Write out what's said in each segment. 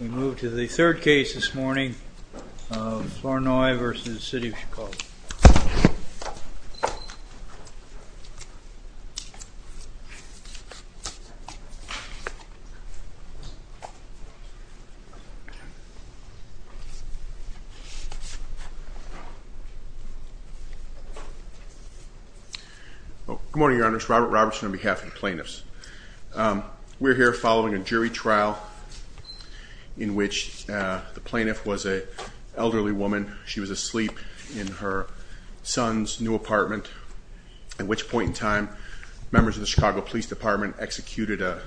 We move to the third case this morning of Flournoy v. City of Chicago. Good morning, Your Honors. Robert Robertson on behalf of the plaintiffs. We're here following a jury trial in which the plaintiff was an elderly woman. She was asleep in her son's new apartment, at which point in time, members of the Chicago Police Department executed a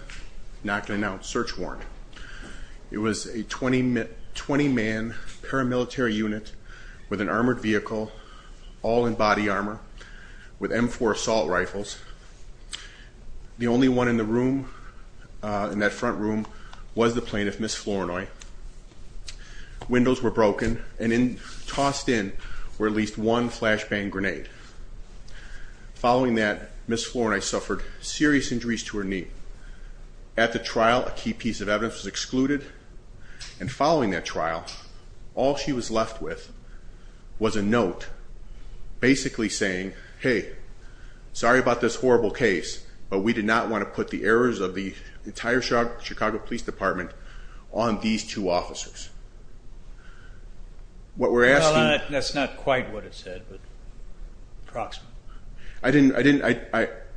not-to-be-announced search warrant. It was a 20-man paramilitary unit with an armored vehicle, all in body armor, with M4 assault rifles. The only one in the room, in that front room, was the plaintiff, Ms. Flournoy. Windows were broken, and tossed in were at least one flashbang grenade. Following that, Ms. Flournoy suffered serious injuries to her knee. At the trial, a key piece of evidence was excluded, and following that trial, all she was left with was a note, basically saying, hey, sorry about this horrible case, but we did not want to put the errors of the entire Chicago Police Department on these two officers. What we're asking... Well, that's not quite what it said, but approximate. I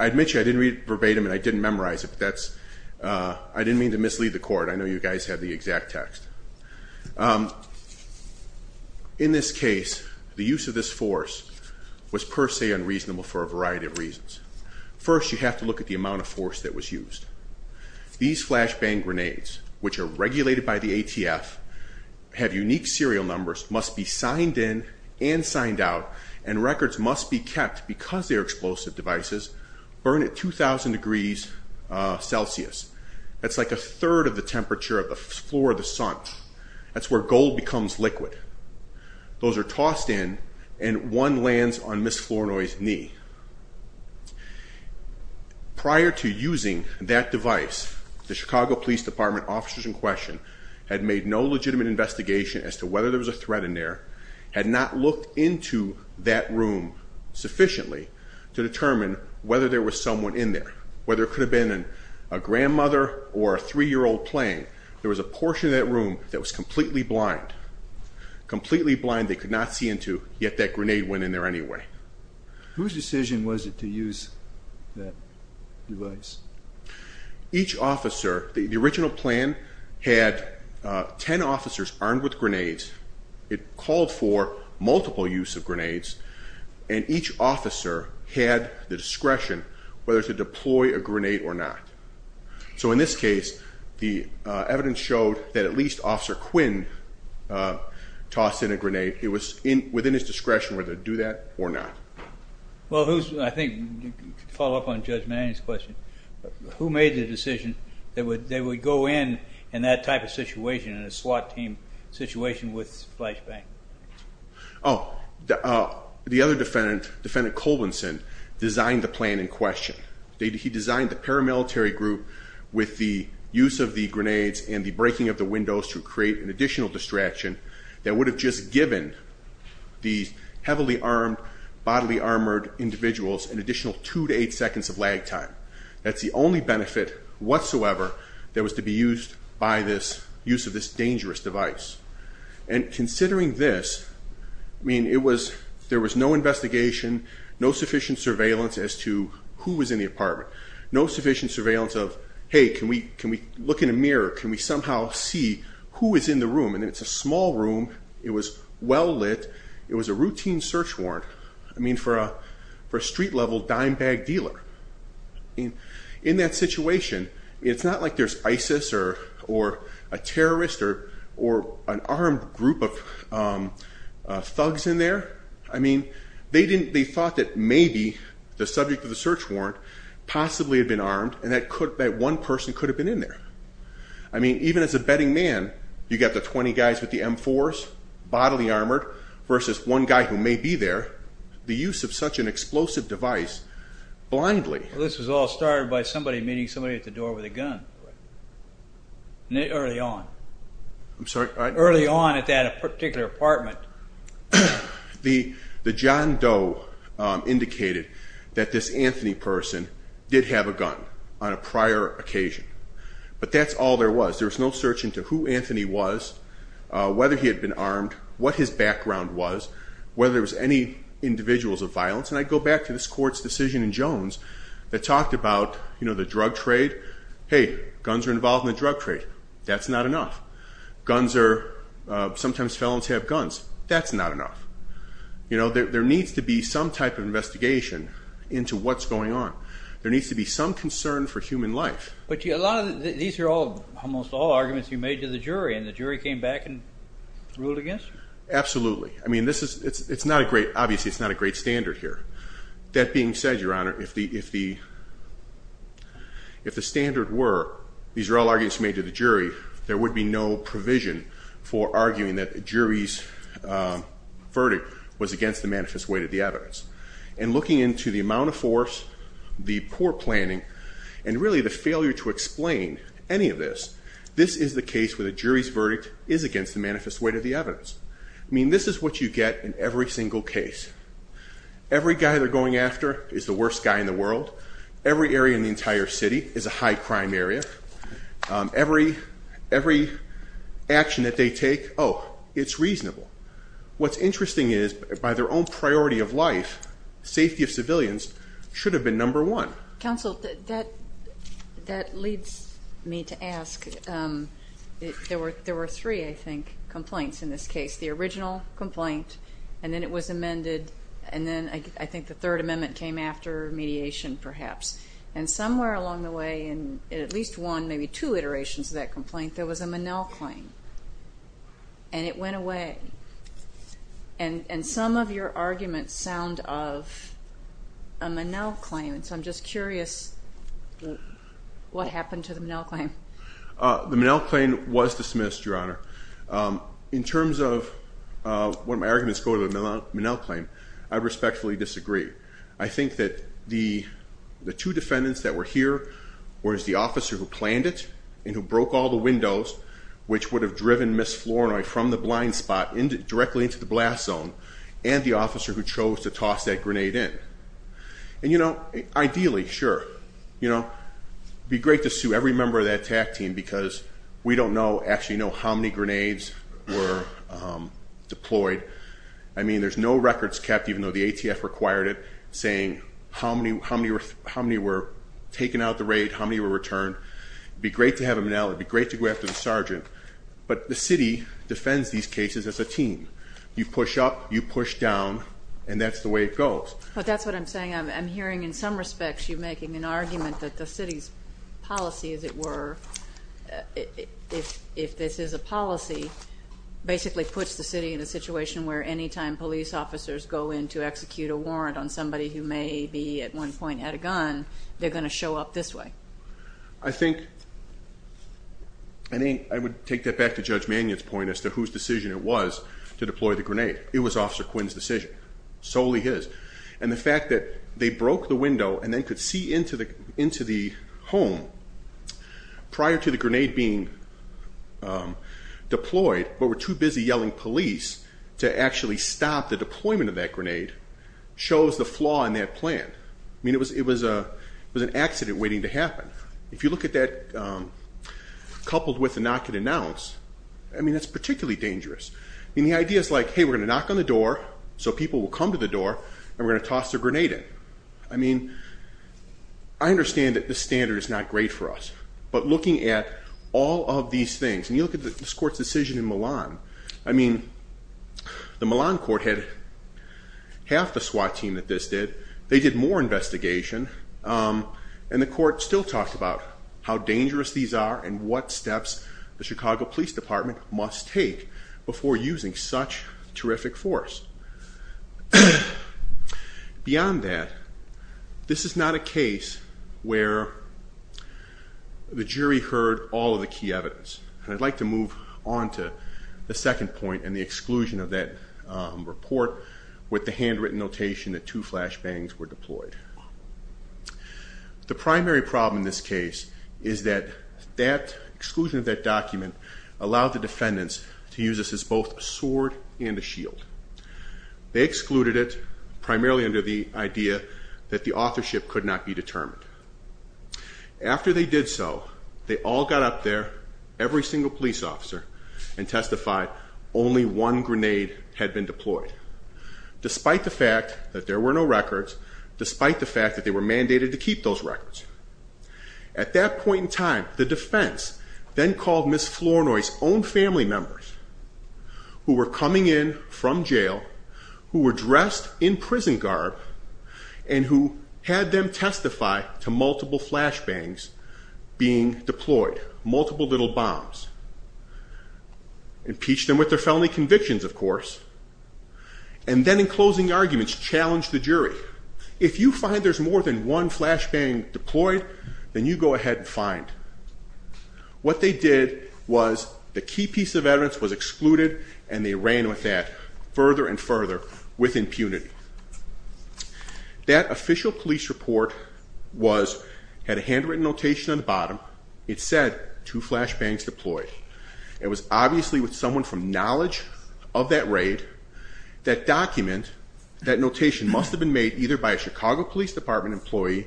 admit you, I didn't read it verbatim, and I didn't memorize it, but I didn't mean to The use of this force was per se unreasonable for a variety of reasons. First, you have to look at the amount of force that was used. These flashbang grenades, which are regulated by the ATF, have unique serial numbers, must be signed in and signed out, and records must be kept because they're explosive devices, burn at 2,000 degrees Celsius. That's like a third of the temperature of the floor of the sun. That's where gold becomes liquid. Those are tossed in, and one lands on Ms. Flournoy's knee. Prior to using that device, the Chicago Police Department officers in question had made no legitimate investigation as to whether there was a threat in there, had not looked into that room sufficiently to determine whether there was someone in there, whether it could have been a portion of that room that was completely blind, completely blind, they could not see into, yet that grenade went in there anyway. Whose decision was it to use that device? Each officer, the original plan had ten officers armed with grenades. It called for multiple use of grenades, and each officer had the discretion whether to deploy a grenade or not. So in this case, the evidence showed that at least Officer Quinn tossed in a grenade. It was within his discretion whether to do that or not. Well, I think you can follow up on Judge Manning's question. Who made the decision that they would go in in that type of situation, in a SWAT team situation with flashbang? Oh, the other defendant, Defendant Colbinson, designed the plan in question. He designed the paramilitary group with the use of the grenades and the breaking of the windows to create an additional distraction that would have just given these heavily armed, bodily armored individuals an additional two to eight seconds of lag time. That's the only benefit whatsoever that was to be used by this, use of this dangerous device. And considering this, I mean, it was, there was no investigation, no sufficient surveillance as to who was in the apartment. No sufficient surveillance of, hey, can we look in a mirror? Can we somehow see who is in the room? And it's a small room. It was well lit. It was a routine search warrant, I mean, for a street level dime bag dealer. In that situation, it's not like there's ISIS or a terrorist or an armed group of thugs in there. I mean, they thought that maybe the subject of the search warrant possibly had been armed and that one person could have been in there. I mean, even as a betting man, you got the 20 guys with the M4s, bodily armored, versus one guy who may be there. The use of such an explosive device, blindly. Well, this was all started by somebody meeting somebody at the door with a gun. Early on. I'm sorry? Early on at that particular apartment. The John Doe indicated that this Anthony person did have a gun on a prior occasion. But that's all there was. There was no search into who Anthony was, whether he had been armed, what his background was, whether there was any individuals of violence. And I go back to this court's decision in Jones that talked about the drug trade. Hey, guns are involved in the drug trade. That's not enough. Guns are, sometimes felons have guns. That's not enough. You know, there needs to be some type of investigation into what's going on. There needs to be some concern for human life. But these are almost all arguments you made to the jury and the jury came back and ruled against you? Absolutely. I mean, this is, it's not a great, obviously it's not a great standard here. That being said, Your Honor, if the standard were, these are all arguments made to the jury, there would be no provision for arguing that a jury's verdict was against the manifest weight of the evidence. And looking into the amount of force, the poor planning, and really the failure to explain any of this, this is the case where the jury's verdict is against the manifest weight of the evidence. I mean, this is what you get in every single case. Every guy they're going after is the worst guy in the world. Every area in the entire city is a high crime area. Every action that they take, oh, it's reasonable. What's interesting is, by their own priority of life, safety of civilians should have been number one. Counsel, that leads me to ask, there were three, I think, complaints in this case. The original complaint, and then it was amended, and then I think the Third Amendment came after mediation perhaps. And somewhere along the way, in at least one, maybe two, iterations of that complaint, there was a Monell claim, and it went away. And some of your arguments sound of a Monell claim, and so I'm just curious what happened to the Monell claim. The Monell claim was dismissed, Your Honor. In terms of what my arguments go to the Monell claim, I respectfully disagree. I think that the two defendants that were here were the officer who planned it and who broke all the windows, which would have driven Ms. Flournoy from the blind spot directly into the blast zone, and the officer who chose to toss that grenade in. And, you know, ideally, sure, you know, it would be great to sue every member of that attack team, because we don't know, actually know, how many grenades were deployed. I mean, there's no records kept, even though the ATF required it, saying how many were taken out of the raid, how many were returned. It would be great to have a Monell. It would be great to go after the sergeant. But the city defends these cases as a team. You push up, you push down, and that's the way it goes. But that's what I'm saying. I'm hearing in some respects you making an argument that the city's policy, as it were, if this is a policy, basically puts the city in a situation where any time police officers go in to execute a warrant on somebody who may be at one point had a gun, they're going to show up this way. I think I would take that back to Judge Mannion's point as to whose decision it was to deploy the grenade. It was Officer Quinn's decision, solely his. And the fact that they broke the window and then could see into the home prior to the grenade being deployed, but were too busy yelling police to actually stop the deployment of that grenade, shows the flaw in that plan. I mean, it was an accident waiting to happen. If you look at that coupled with the knock and announce, I mean, that's particularly dangerous. I mean, the idea is like, hey, we're going to knock on the door so people will come to the door, and we're going to toss their grenade in. I mean, I understand that this standard is not great for us. But looking at all of these things, and you look at this court's decision in Milan, I mean, the Milan court had half the SWAT team that this did. They did more investigation, and the court still talked about how dangerous these are and what steps the Chicago Police Department must take before using such terrific force. Beyond that, this is not a case where the jury heard all of the key evidence. And I'd like to move on to the second point and the exclusion of that report with the handwritten notation that two flashbangs were deployed. The primary problem in this case is that that exclusion of that document allowed the defendants to use this as both a sword and a shield. They excluded it primarily under the idea that the authorship could not be determined. After they did so, they all got up there, every single police officer, and testified only one grenade had been deployed. Despite the fact that there were no records, despite the fact that they were mandated to keep those records. At that point in time, the defense then called Ms. Flournoy's own family members, who were coming in from jail, who were dressed in prison garb, and who had them testify to multiple flashbangs being deployed, multiple little bombs. Impeached them with their felony convictions, of course. And then, in closing arguments, challenged the jury, if you find there's more than one flashbang deployed, then you go ahead and find. What they did was the key piece of evidence was excluded, and they ran with that further and further with impunity. That official police report had a handwritten notation on the bottom. It said, two flashbangs deployed. It was obviously with someone from knowledge of that raid. That document, that notation, must have been made either by a Chicago Police Department employee,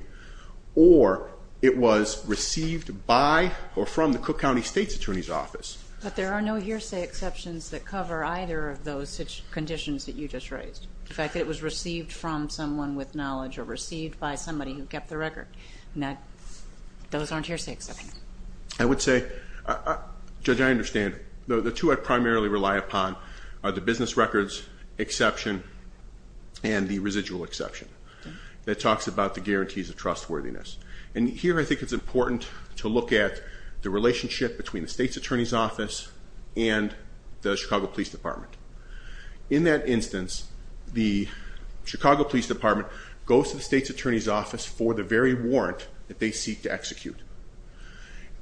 or it was received by or from the Cook County State's Attorney's Office. But there are no hearsay exceptions that cover either of those conditions that you just raised. In fact, it was received from someone with knowledge, or received by somebody who kept the record. Those aren't hearsay exceptions. I would say, Judge, I understand. The two I primarily rely upon are the business records exception and the residual exception. That talks about the guarantees of trustworthiness. And here I think it's important to look at the relationship between the State's Attorney's Office and the Chicago Police Department. In that instance, the Chicago Police Department goes to the State's Attorney's Office for the very warrant that they seek to execute.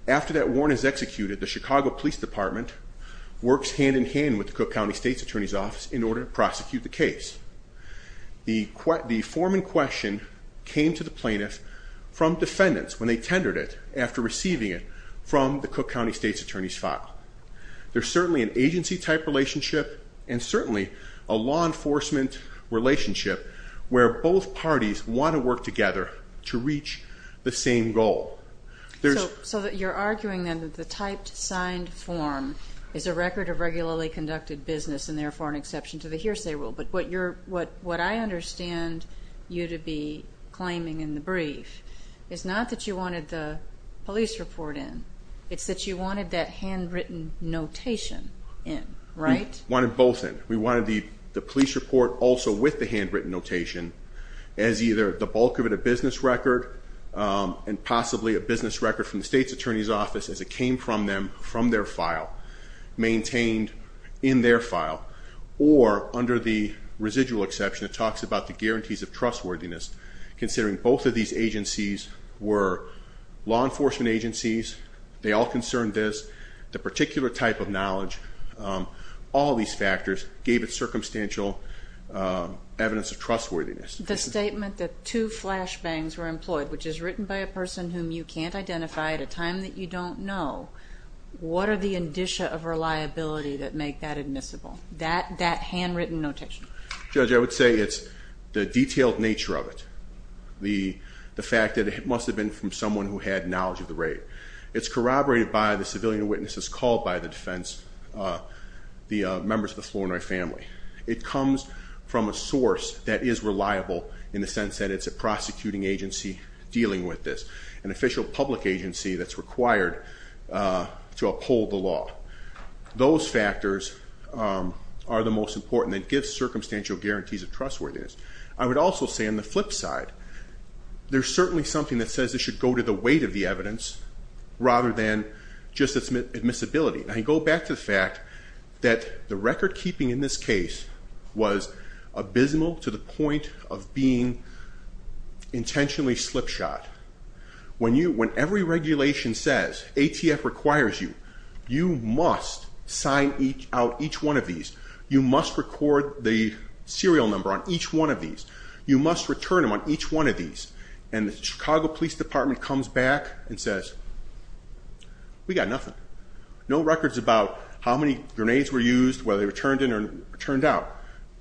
After that warrant is executed, the Chicago Police Department works hand-in-hand with the Cook County State's Attorney's Office in order to prosecute the case. The form in question came to the plaintiff from defendants when they tendered it, after receiving it from the Cook County State's Attorney's file. There's certainly an agency-type relationship and certainly a law enforcement relationship where both parties want to work together to reach the same goal. So you're arguing then that the typed signed form is a record of regularly conducted business and therefore an exception to the hearsay rule. But what I understand you to be claiming in the brief is not that you wanted the police report in. It's that you wanted that handwritten notation in, right? We wanted both in. We wanted the police report also with the handwritten notation as either the bulk of it a business record and possibly a business record from the State's Attorney's Office as it came from them, from their file, maintained in their file, or under the residual exception it talks about the guarantees of trustworthiness considering both of these agencies were law enforcement agencies. They all concerned this. The particular type of knowledge, all these factors, gave it circumstantial evidence of trustworthiness. The statement that two flashbangs were employed, which is written by a person whom you can't identify at a time that you don't know, what are the indicia of reliability that make that admissible, that handwritten notation? Judge, I would say it's the detailed nature of it, the fact that it must have been from someone who had knowledge of the raid. It's corroborated by the civilian witnesses called by the defense, the members of the Flournoy family. It comes from a source that is reliable in the sense that it's a prosecuting agency dealing with this, an official public agency that's required to uphold the law. Those factors are the most important. It gives circumstantial guarantees of trustworthiness. I would also say on the flip side, there's certainly something that says it should go to the weight of the evidence rather than just its admissibility. I go back to the fact that the record-keeping in this case was abysmal to the point of being intentionally slip-shot. When every regulation says ATF requires you, you must sign out each one of these. You must record the serial number on each one of these. You must return them on each one of these. And the Chicago Police Department comes back and says, we got nothing. No records about how many grenades were used, whether they were turned in or turned out.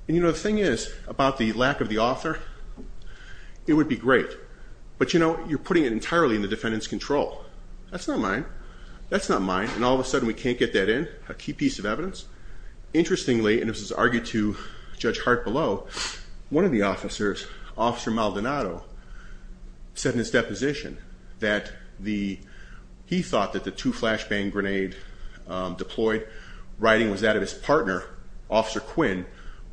And the thing is, about the lack of the author, it would be great. But you're putting it entirely in the defendant's control. That's not mine. That's not mine. And all of a sudden we can't get that in, a key piece of evidence? Interestingly, and this was argued to Judge Hart below, one of the officers, Officer Maldonado, said in his deposition that he thought that the two flashbang grenades deployed, riding, was that of his partner, Officer Quinn,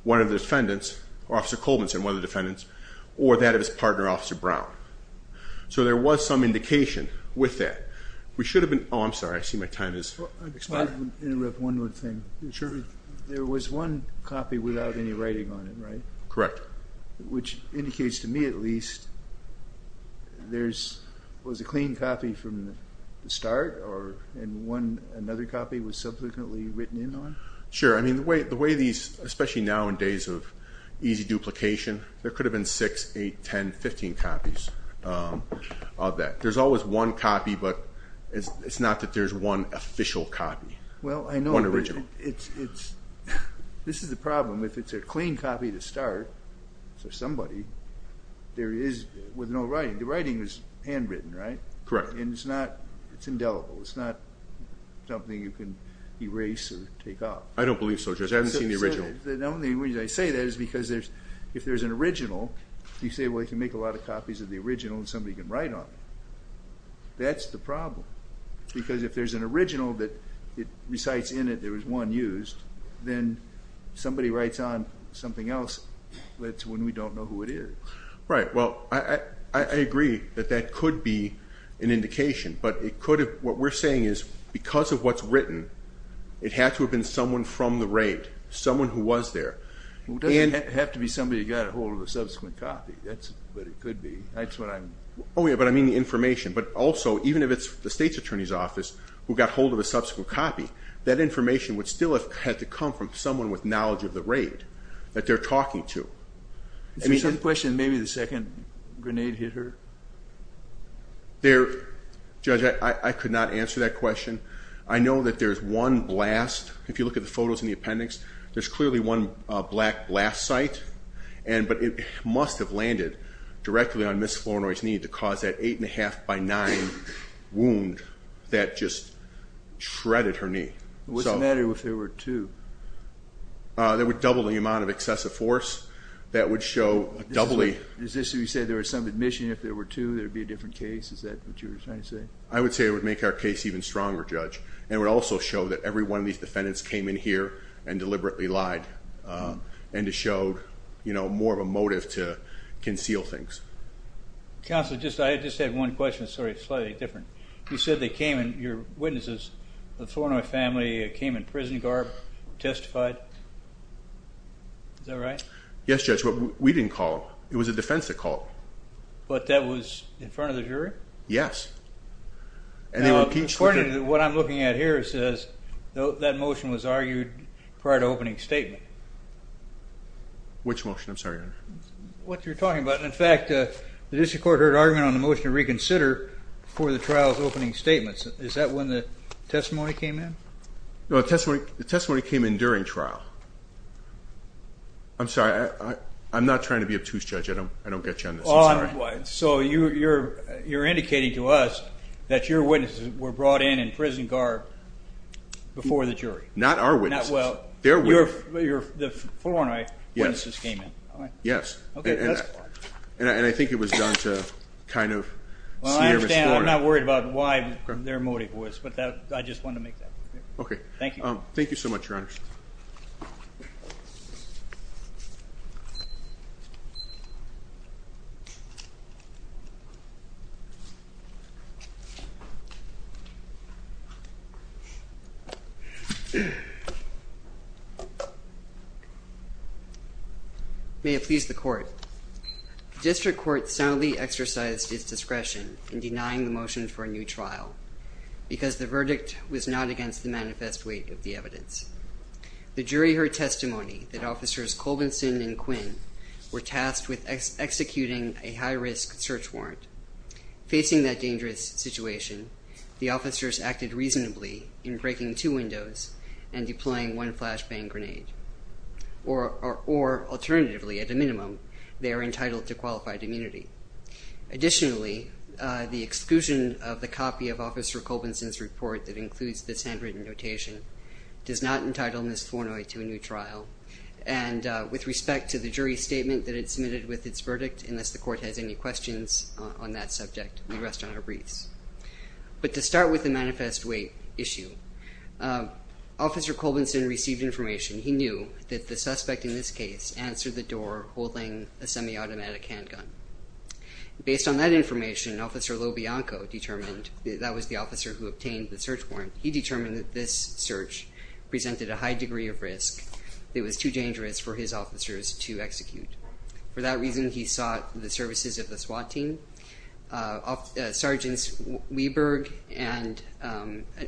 one of the defendants, or Officer Colvinson, one of the defendants, or that of his partner, Officer Brown. So there was some indication with that. We should have been, oh, I'm sorry, I see my time has expired. If I could interrupt one more thing. Sure. There was one copy without any writing on it, right? Correct. Which indicates to me at least there was a clean copy from the start and another copy was subsequently written in on? Sure. I mean, the way these, especially now in days of easy duplication, there could have been six, eight, ten, fifteen copies of that. There's always one copy, but it's not that there's one official copy. Well, I know. One original. This is the problem. If it's a clean copy to start for somebody, there is, with no writing. The writing is handwritten, right? Correct. And it's not, it's indelible. It's not something you can erase or take off. I don't believe so, Judge. I haven't seen the original. The only reason I say that is because if there's an original, you say, well, you can make a lot of copies of the original and somebody can write on them. That's the problem. Because if there's an original that recites in it there was one used, then somebody writes on something else. That's when we don't know who it is. Right. Well, I agree that that could be an indication, but it could have, what we're saying is because of what's written, it had to have been someone from the raid, someone who was there. It doesn't have to be somebody who got ahold of a subsequent copy, but it could be. That's what I'm. Oh, yeah, but I mean the information. But also, even if it's the State's Attorney's Office, who got hold of a subsequent copy, that information would still have had to come from someone with knowledge of the raid that they're talking to. Is that the question, maybe the second grenade hit her? Judge, I could not answer that question. I know that there's one blast. If you look at the photos in the appendix, there's clearly one black blast site, but it must have landed directly on Ms. Flournoy's knee to cause that eight-and-a-half by nine wound that just shredded her knee. What's the matter if there were two? That would double the amount of excessive force. That would show a doubly. Is this what you said, there was some admission if there were two, there would be a different case? Is that what you were trying to say? I would say it would make our case even stronger, Judge, and it would also show that every one of these defendants came in here and deliberately lied, and it showed more of a motive to conceal things. Counsel, I just had one question. Sorry, slightly different. You said they came and your witnesses, the Flournoy family, came in prison garb, testified. Is that right? Yes, Judge. We didn't call. It was the defense that called. But that was in front of the jury? Yes. Now, according to what I'm looking at here, that motion was argued prior to opening statement. Which motion? I'm sorry, Your Honor. What you're talking about. In fact, the district court heard argument on the motion to reconsider before the trial's opening statements. Is that when the testimony came in? No, the testimony came in during trial. I'm sorry. I'm not trying to be obtuse, Judge. I don't get you on this. I'm sorry. So you're indicating to us that your witnesses were brought in in prison garb before the jury? Not our witnesses. Well, the Flournoy witnesses came in. Yes. Okay. And I think it was done to kind of seer Miss Flournoy. Well, I understand. I'm not worried about why their motive was. But I just wanted to make that clear. Okay. Thank you. Thank you so much, Your Honor. Thank you, Your Honor. May it please the court, the district court soundly exercised its discretion in denying the motion for a new trial because the verdict was not against the manifest weight of the evidence. The jury heard testimony that officers Colbinson and Quinn were tasked with executing a high-risk search warrant. Facing that dangerous situation, the officers acted reasonably in breaking two windows and deploying one flashbang grenade, or alternatively, at a minimum, they are entitled to qualified immunity. Additionally, the exclusion of the copy of Officer Colbinson's report that includes this handwritten notation does not entitle Ms. Thornoy to a new trial, and with respect to the jury's statement that it submitted with its verdict, unless the court has any questions on that subject, we rest on our briefs. But to start with the manifest weight issue, Officer Colbinson received information he knew that the suspect in this case answered the door holding a semi-automatic handgun. Based on that information, Officer LoBianco determined that that was the officer who obtained the search warrant. He determined that this search presented a high degree of risk. It was too dangerous for his officers to execute. For that reason, he sought the services of the SWAT team. Sergeants Wieberg and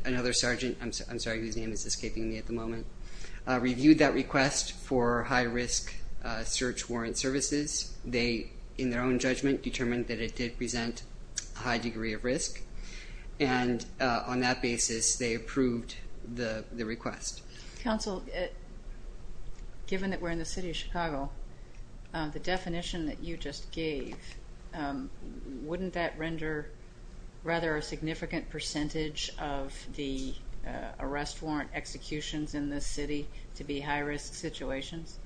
another sergeant, I'm sorry, his name is escaping me at the moment, reviewed that request for high-risk search warrant services. They, in their own judgment, determined that it did present a high degree of risk, and on that basis they approved the request. Counsel, given that we're in the city of Chicago, the definition that you just gave, wouldn't that render rather a significant percentage of the arrest warrant executions in this city to be high-risk situations?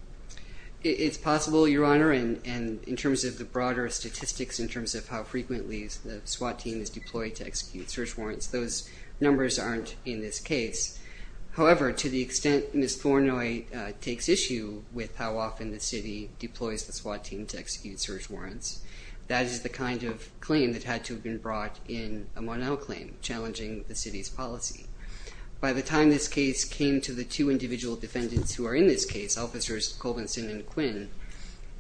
It's possible, Your Honor, and in terms of the broader statistics, in terms of how frequently the SWAT team is deployed to execute search warrants, those numbers aren't in this case. However, to the extent Ms. Thornoy takes issue with how often the city deploys the SWAT team to execute search warrants, that is the kind of claim that had to have been brought in a Monell claim, challenging the city's policy. By the time this case came to the two individual defendants who are in this case, Officers Colbinson and Quinn,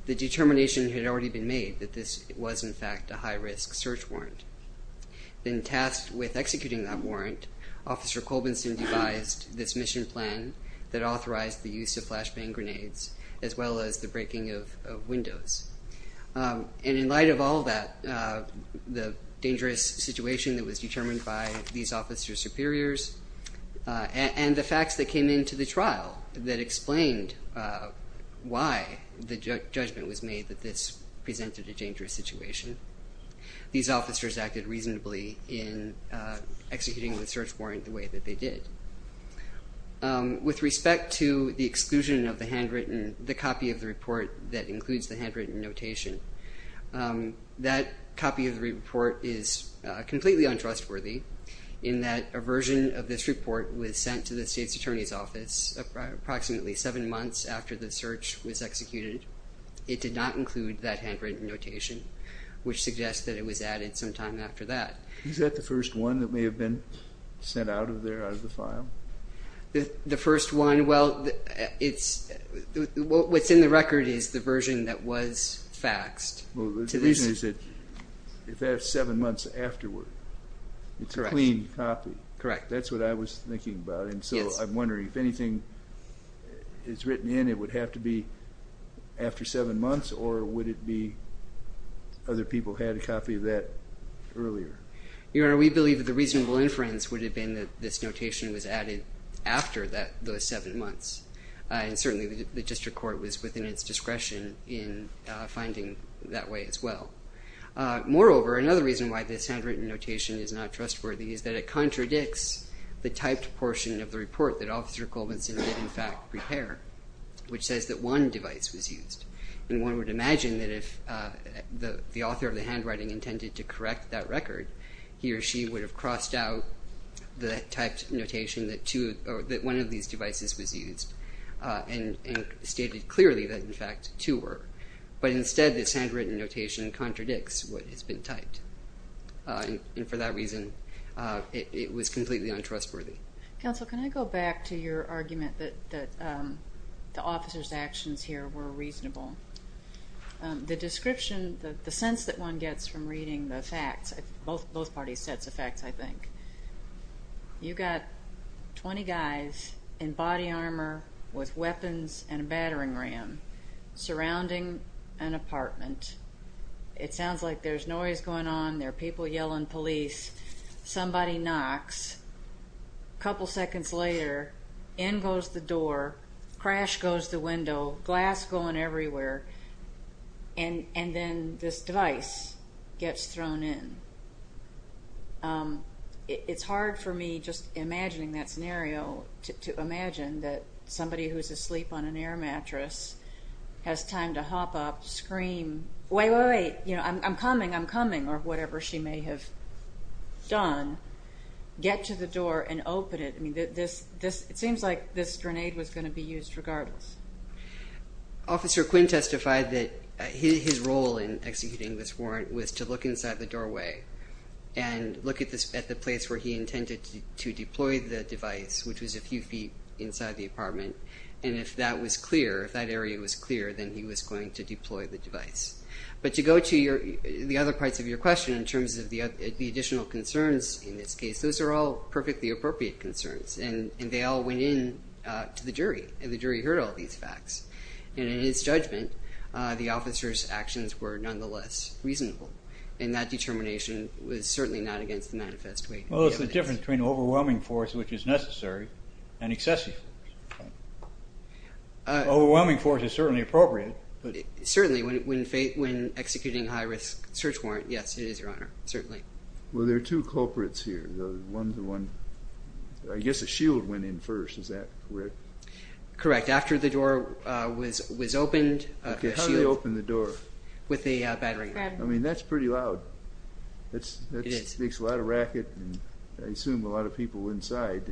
the determination had already been made that this was, in fact, a high-risk search warrant. Then tasked with executing that warrant, Officer Colbinson devised this mission plan that authorized the use of flashbang grenades as well as the breaking of windows. And in light of all that, the dangerous situation that was determined by these officers' superiors and the facts that came into the trial that explained why the judgment was made that this presented a dangerous situation, these officers acted reasonably in executing the search warrant the way that they did. With respect to the exclusion of the handwritten, the copy of the report that includes the handwritten notation, that copy of the report is completely untrustworthy in that a version of this report was sent to the state's attorney's office approximately seven months after the search was executed. It did not include that handwritten notation, which suggests that it was added some time after that. Is that the first one that may have been sent out of there, out of the file? The first one, well, it's, what's in the record is the version that was faxed. Well, the reason is that if that's seven months afterward, it's a clean copy. Correct. That's what I was thinking about. And so I'm wondering if anything is written in, it would have to be after seven months, or would it be other people had a copy of that earlier? Your Honor, we believe that the reasonable inference would have been that this notation was added after those seven months. And certainly the district court was within its discretion in finding that way as well. Moreover, another reason why this handwritten notation is not trustworthy is that it contradicts the typed portion of the report that Officer Colvinson did in fact prepare, which says that one device was used. And one would imagine that if the author of the handwriting intended to correct that record, he or she would have crossed out the typed notation that one of these devices was used and stated clearly that in fact two were. But instead, this handwritten notation contradicts what has been typed. And for that reason, it was completely untrustworthy. Counsel, can I go back to your argument that the officer's actions here were reasonable? The description, the sense that one gets from reading the facts, both parties' sets of facts, I think. You got 20 guys in body armor with weapons and a battering ram surrounding an apartment. It sounds like there's noise going on. There are people yelling police. Somebody knocks. A couple seconds later, in goes the door. Crash goes the window. Glass going everywhere. And then this device gets thrown in. It's hard for me just imagining that scenario, to imagine that somebody who's asleep on an air mattress has time to hop up, scream, wait, wait, wait, I'm coming, I'm coming, or whatever she may have done, get to the door and open it. It seems like this grenade was going to be used regardless. Officer Quinn testified that his role in executing this warrant was to look inside the doorway and look at the place where he intended to deploy the device, which was a few feet inside the apartment, and if that was clear, if that area was clear, then he was going to deploy the device. But to go to the other parts of your question in terms of the additional concerns in this case, those are all perfectly appropriate concerns, and they all went in to the jury, and the jury heard all these facts. And in his judgment, the officer's actions were nonetheless reasonable, and that determination was certainly not against the manifest way. Well, there's a difference between overwhelming force, which is necessary, and excessive force. Overwhelming force is certainly appropriate, but... Certainly, when executing a high-risk search warrant, yes, it is, Your Honor, certainly. Well, there are two culprits here, one to one. I guess a shield went in first, is that correct? Correct. After the door was opened... Okay, how did he open the door? With a battery. I mean, that's pretty loud. It is. That makes a lot of racket, and I assume a lot of people inside,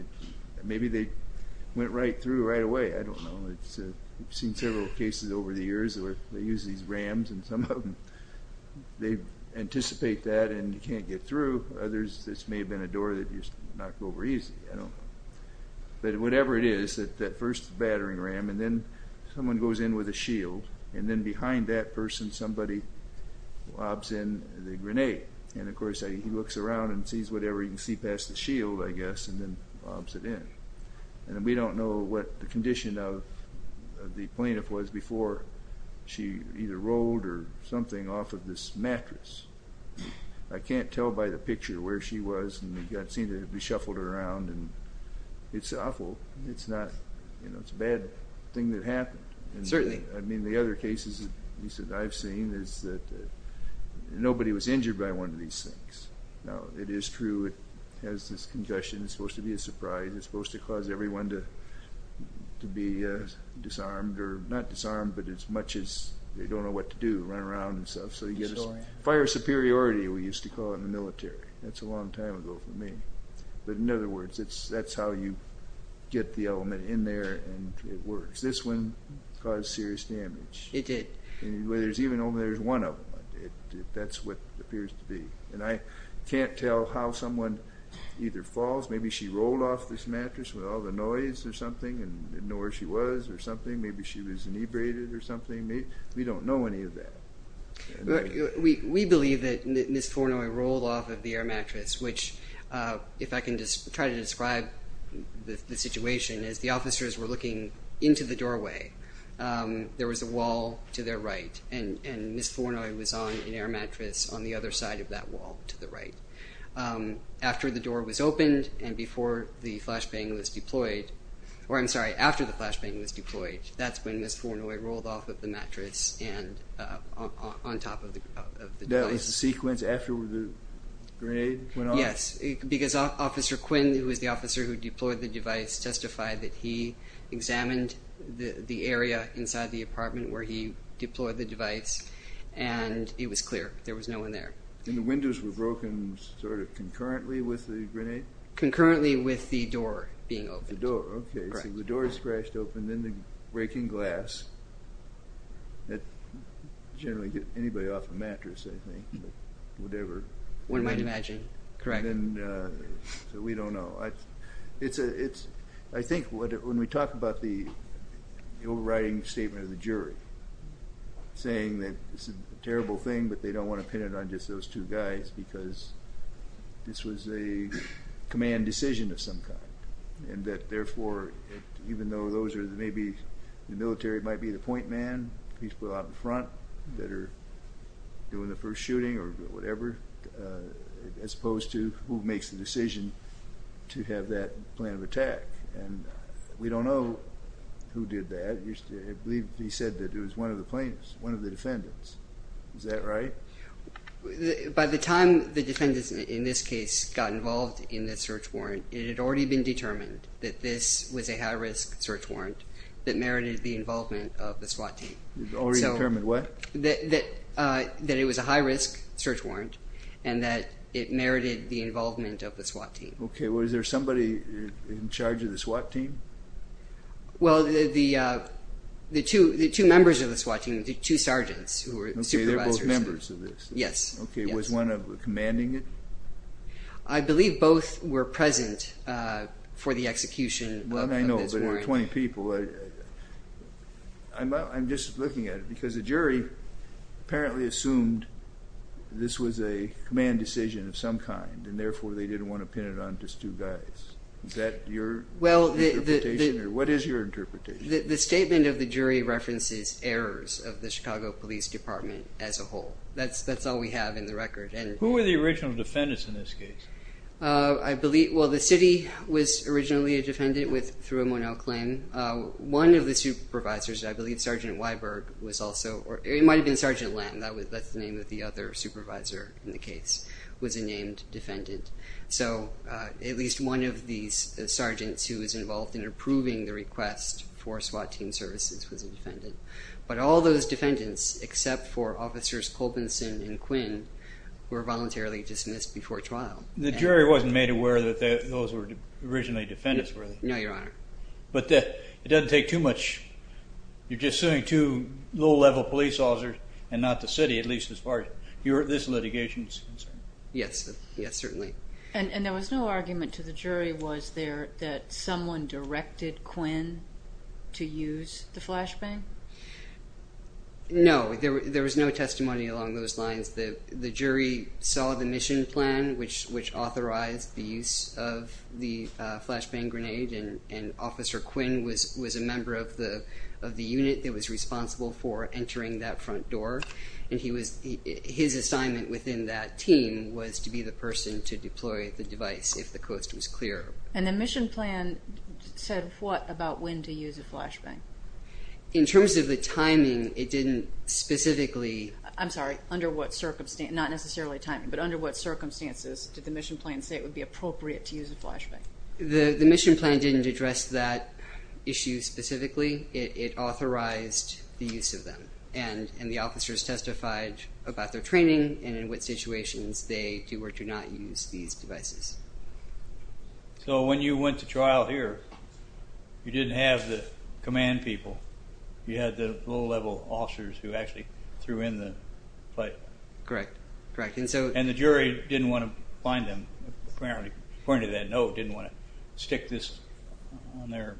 maybe they went right through right away. I don't know. We've seen several cases over the years where they use these rams, and some of them, they anticipate that and can't get through. Others, this may have been a door that just knocked over easily. I don't know. But whatever it is, that first battering ram, and then someone goes in with a shield, and then behind that person somebody lobs in the grenade. And, of course, he looks around and sees whatever he can see past the shield, I guess, and then lobs it in. And we don't know what the condition of the plaintiff was before she either rolled or something off of this mattress. I can't tell by the picture where she was, and we've seen it be shuffled around, and it's awful. It's a bad thing that happened. Certainly. I mean, the other cases, at least that I've seen, is that nobody was injured by one of these things. Now, it is true it has this congestion. It's supposed to be a surprise. It's supposed to cause everyone to be disarmed, or not disarmed, but as much as they don't know what to do, run around and stuff. So you get a fire superiority, we used to call it, in the military. That's a long time ago for me. But, in other words, that's how you get the element in there and it works. This one caused serious damage. It did. There's even only one of them. That's what it appears to be. And I can't tell how someone either falls. Maybe she rolled off this mattress with all the noise or something and didn't know where she was or something. Maybe she was inebriated or something. We don't know any of that. We believe that Ms. Fornoy rolled off of the air mattress, which, if I can try to describe the situation, is the officers were looking into the doorway. There was a wall to their right, and Ms. Fornoy was on an air mattress on the other side of that wall, to the right. After the door was opened and before the flashbang was deployed, or I'm sorry, after the flashbang was deployed, that's when Ms. Fornoy rolled off of the mattress and on top of the device. That was the sequence after the grenade went off? Yes, because Officer Quinn, who was the officer who deployed the device, testified that he examined the area inside the apartment where he deployed the device, and it was clear. There was no one there. And the windows were broken sort of concurrently with the grenade? Concurrently with the door being opened. The door, okay. So the door is scratched open, then the breaking glass. That generally would get anybody off a mattress, I think, whatever. One might imagine, correct. So we don't know. I think when we talk about the overriding statement of the jury, saying that it's a terrible thing, but they don't want to pin it on just those two guys because this was a command decision of some kind, and that, therefore, even though those are maybe the military, it might be the point man, people out in front that are doing the first shooting or whatever, as opposed to who makes the decision to have that plan of attack. And we don't know who did that. I believe he said that it was one of the plaintiffs, one of the defendants. Is that right? By the time the defendants, in this case, got involved in the search warrant, it had already been determined that this was a high-risk search warrant that merited the involvement of the SWAT team. Already determined what? That it was a high-risk search warrant and that it merited the involvement of the SWAT team. Okay. Was there somebody in charge of the SWAT team? Well, the two members of the SWAT team, the two sergeants who were supervisors. Okay. They're both members of this. Yes. Okay. Was one commanding it? I believe both were present for the execution of this warrant. I know, but there were 20 people. I'm just looking at it because the jury apparently assumed this was a command decision of some kind, and therefore they didn't want to pin it on just two guys. Is that your interpretation? What is your interpretation? The statement of the jury references errors of the Chicago Police Department as a whole. That's all we have in the record. Who were the original defendants in this case? Well, the city was originally a defendant through a Monell claim. One of the supervisors, I believe Sergeant Weiberg was also, or it might have been Sergeant Lamb, that's the name of the other supervisor in the case, was a named defendant. So at least one of these sergeants who was involved in approving the request for SWAT team services was a defendant. But all those defendants, except for Officers Colbinson and Quinn, were voluntarily dismissed before trial. The jury wasn't made aware that those were originally defendants, were they? No, Your Honor. But it doesn't take too much. You're just suing two low-level police officers and not the city, at least as far as this litigation is concerned. Yes, certainly. And there was no argument to the jury, was there, that someone directed Quinn to use the flashbang? No, there was no testimony along those lines. The jury saw the mission plan, which authorized the use of the flashbang grenade, and Officer Quinn was a member of the unit that was responsible for entering that front door. And his assignment within that team was to be the person to deploy the device if the coast was clear. And the mission plan said what about when to use a flashbang? In terms of the timing, it didn't specifically... Sorry, under what circumstances, not necessarily timing, but under what circumstances did the mission plan say it would be appropriate to use a flashbang? The mission plan didn't address that issue specifically. It authorized the use of them. And the officers testified about their training and in what situations they do or do not use these devices. So when you went to trial here, you didn't have the command people. You had the low-level officers who actually threw in the pipe. Correct, correct. And the jury didn't want to find them, apparently. According to that note, didn't want to stick this on their...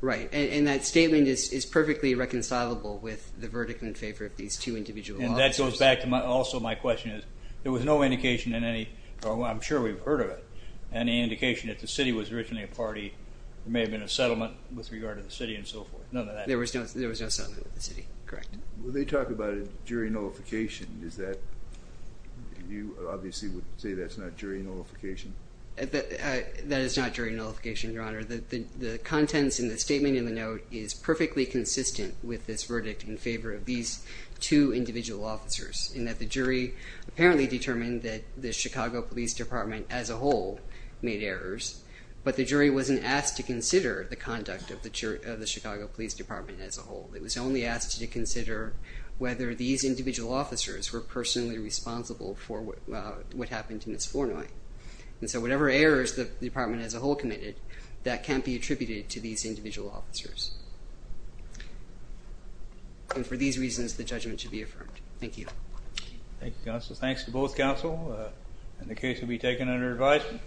Right, and that statement is perfectly reconcilable with the verdict in favor of these two individual officers. And that goes back to also my question is, there was no indication in any, or I'm sure we've heard of it, any indication that the city was originally a party, there may have been a settlement with regard to the city and so forth. None of that. There was no settlement with the city, correct. When they talk about a jury nullification, is that, you obviously would say that's not jury nullification. That is not jury nullification, Your Honor. The contents in the statement in the note is perfectly consistent with this verdict in favor of these two individual officers, in that the jury apparently determined that the Chicago Police Department as a whole made errors, but the jury wasn't asked to consider the conduct of the Chicago Police Department as a whole. It was only asked to consider whether these individual officers were personally responsible for what happened to Ms. Fornoy. And so whatever errors the department as a whole committed, that can't be attributed to these individual officers. And for these reasons, the judgment should be affirmed. Thank you. Thank you, counsel. Thanks to both counsel. And the case will be taken under advisement.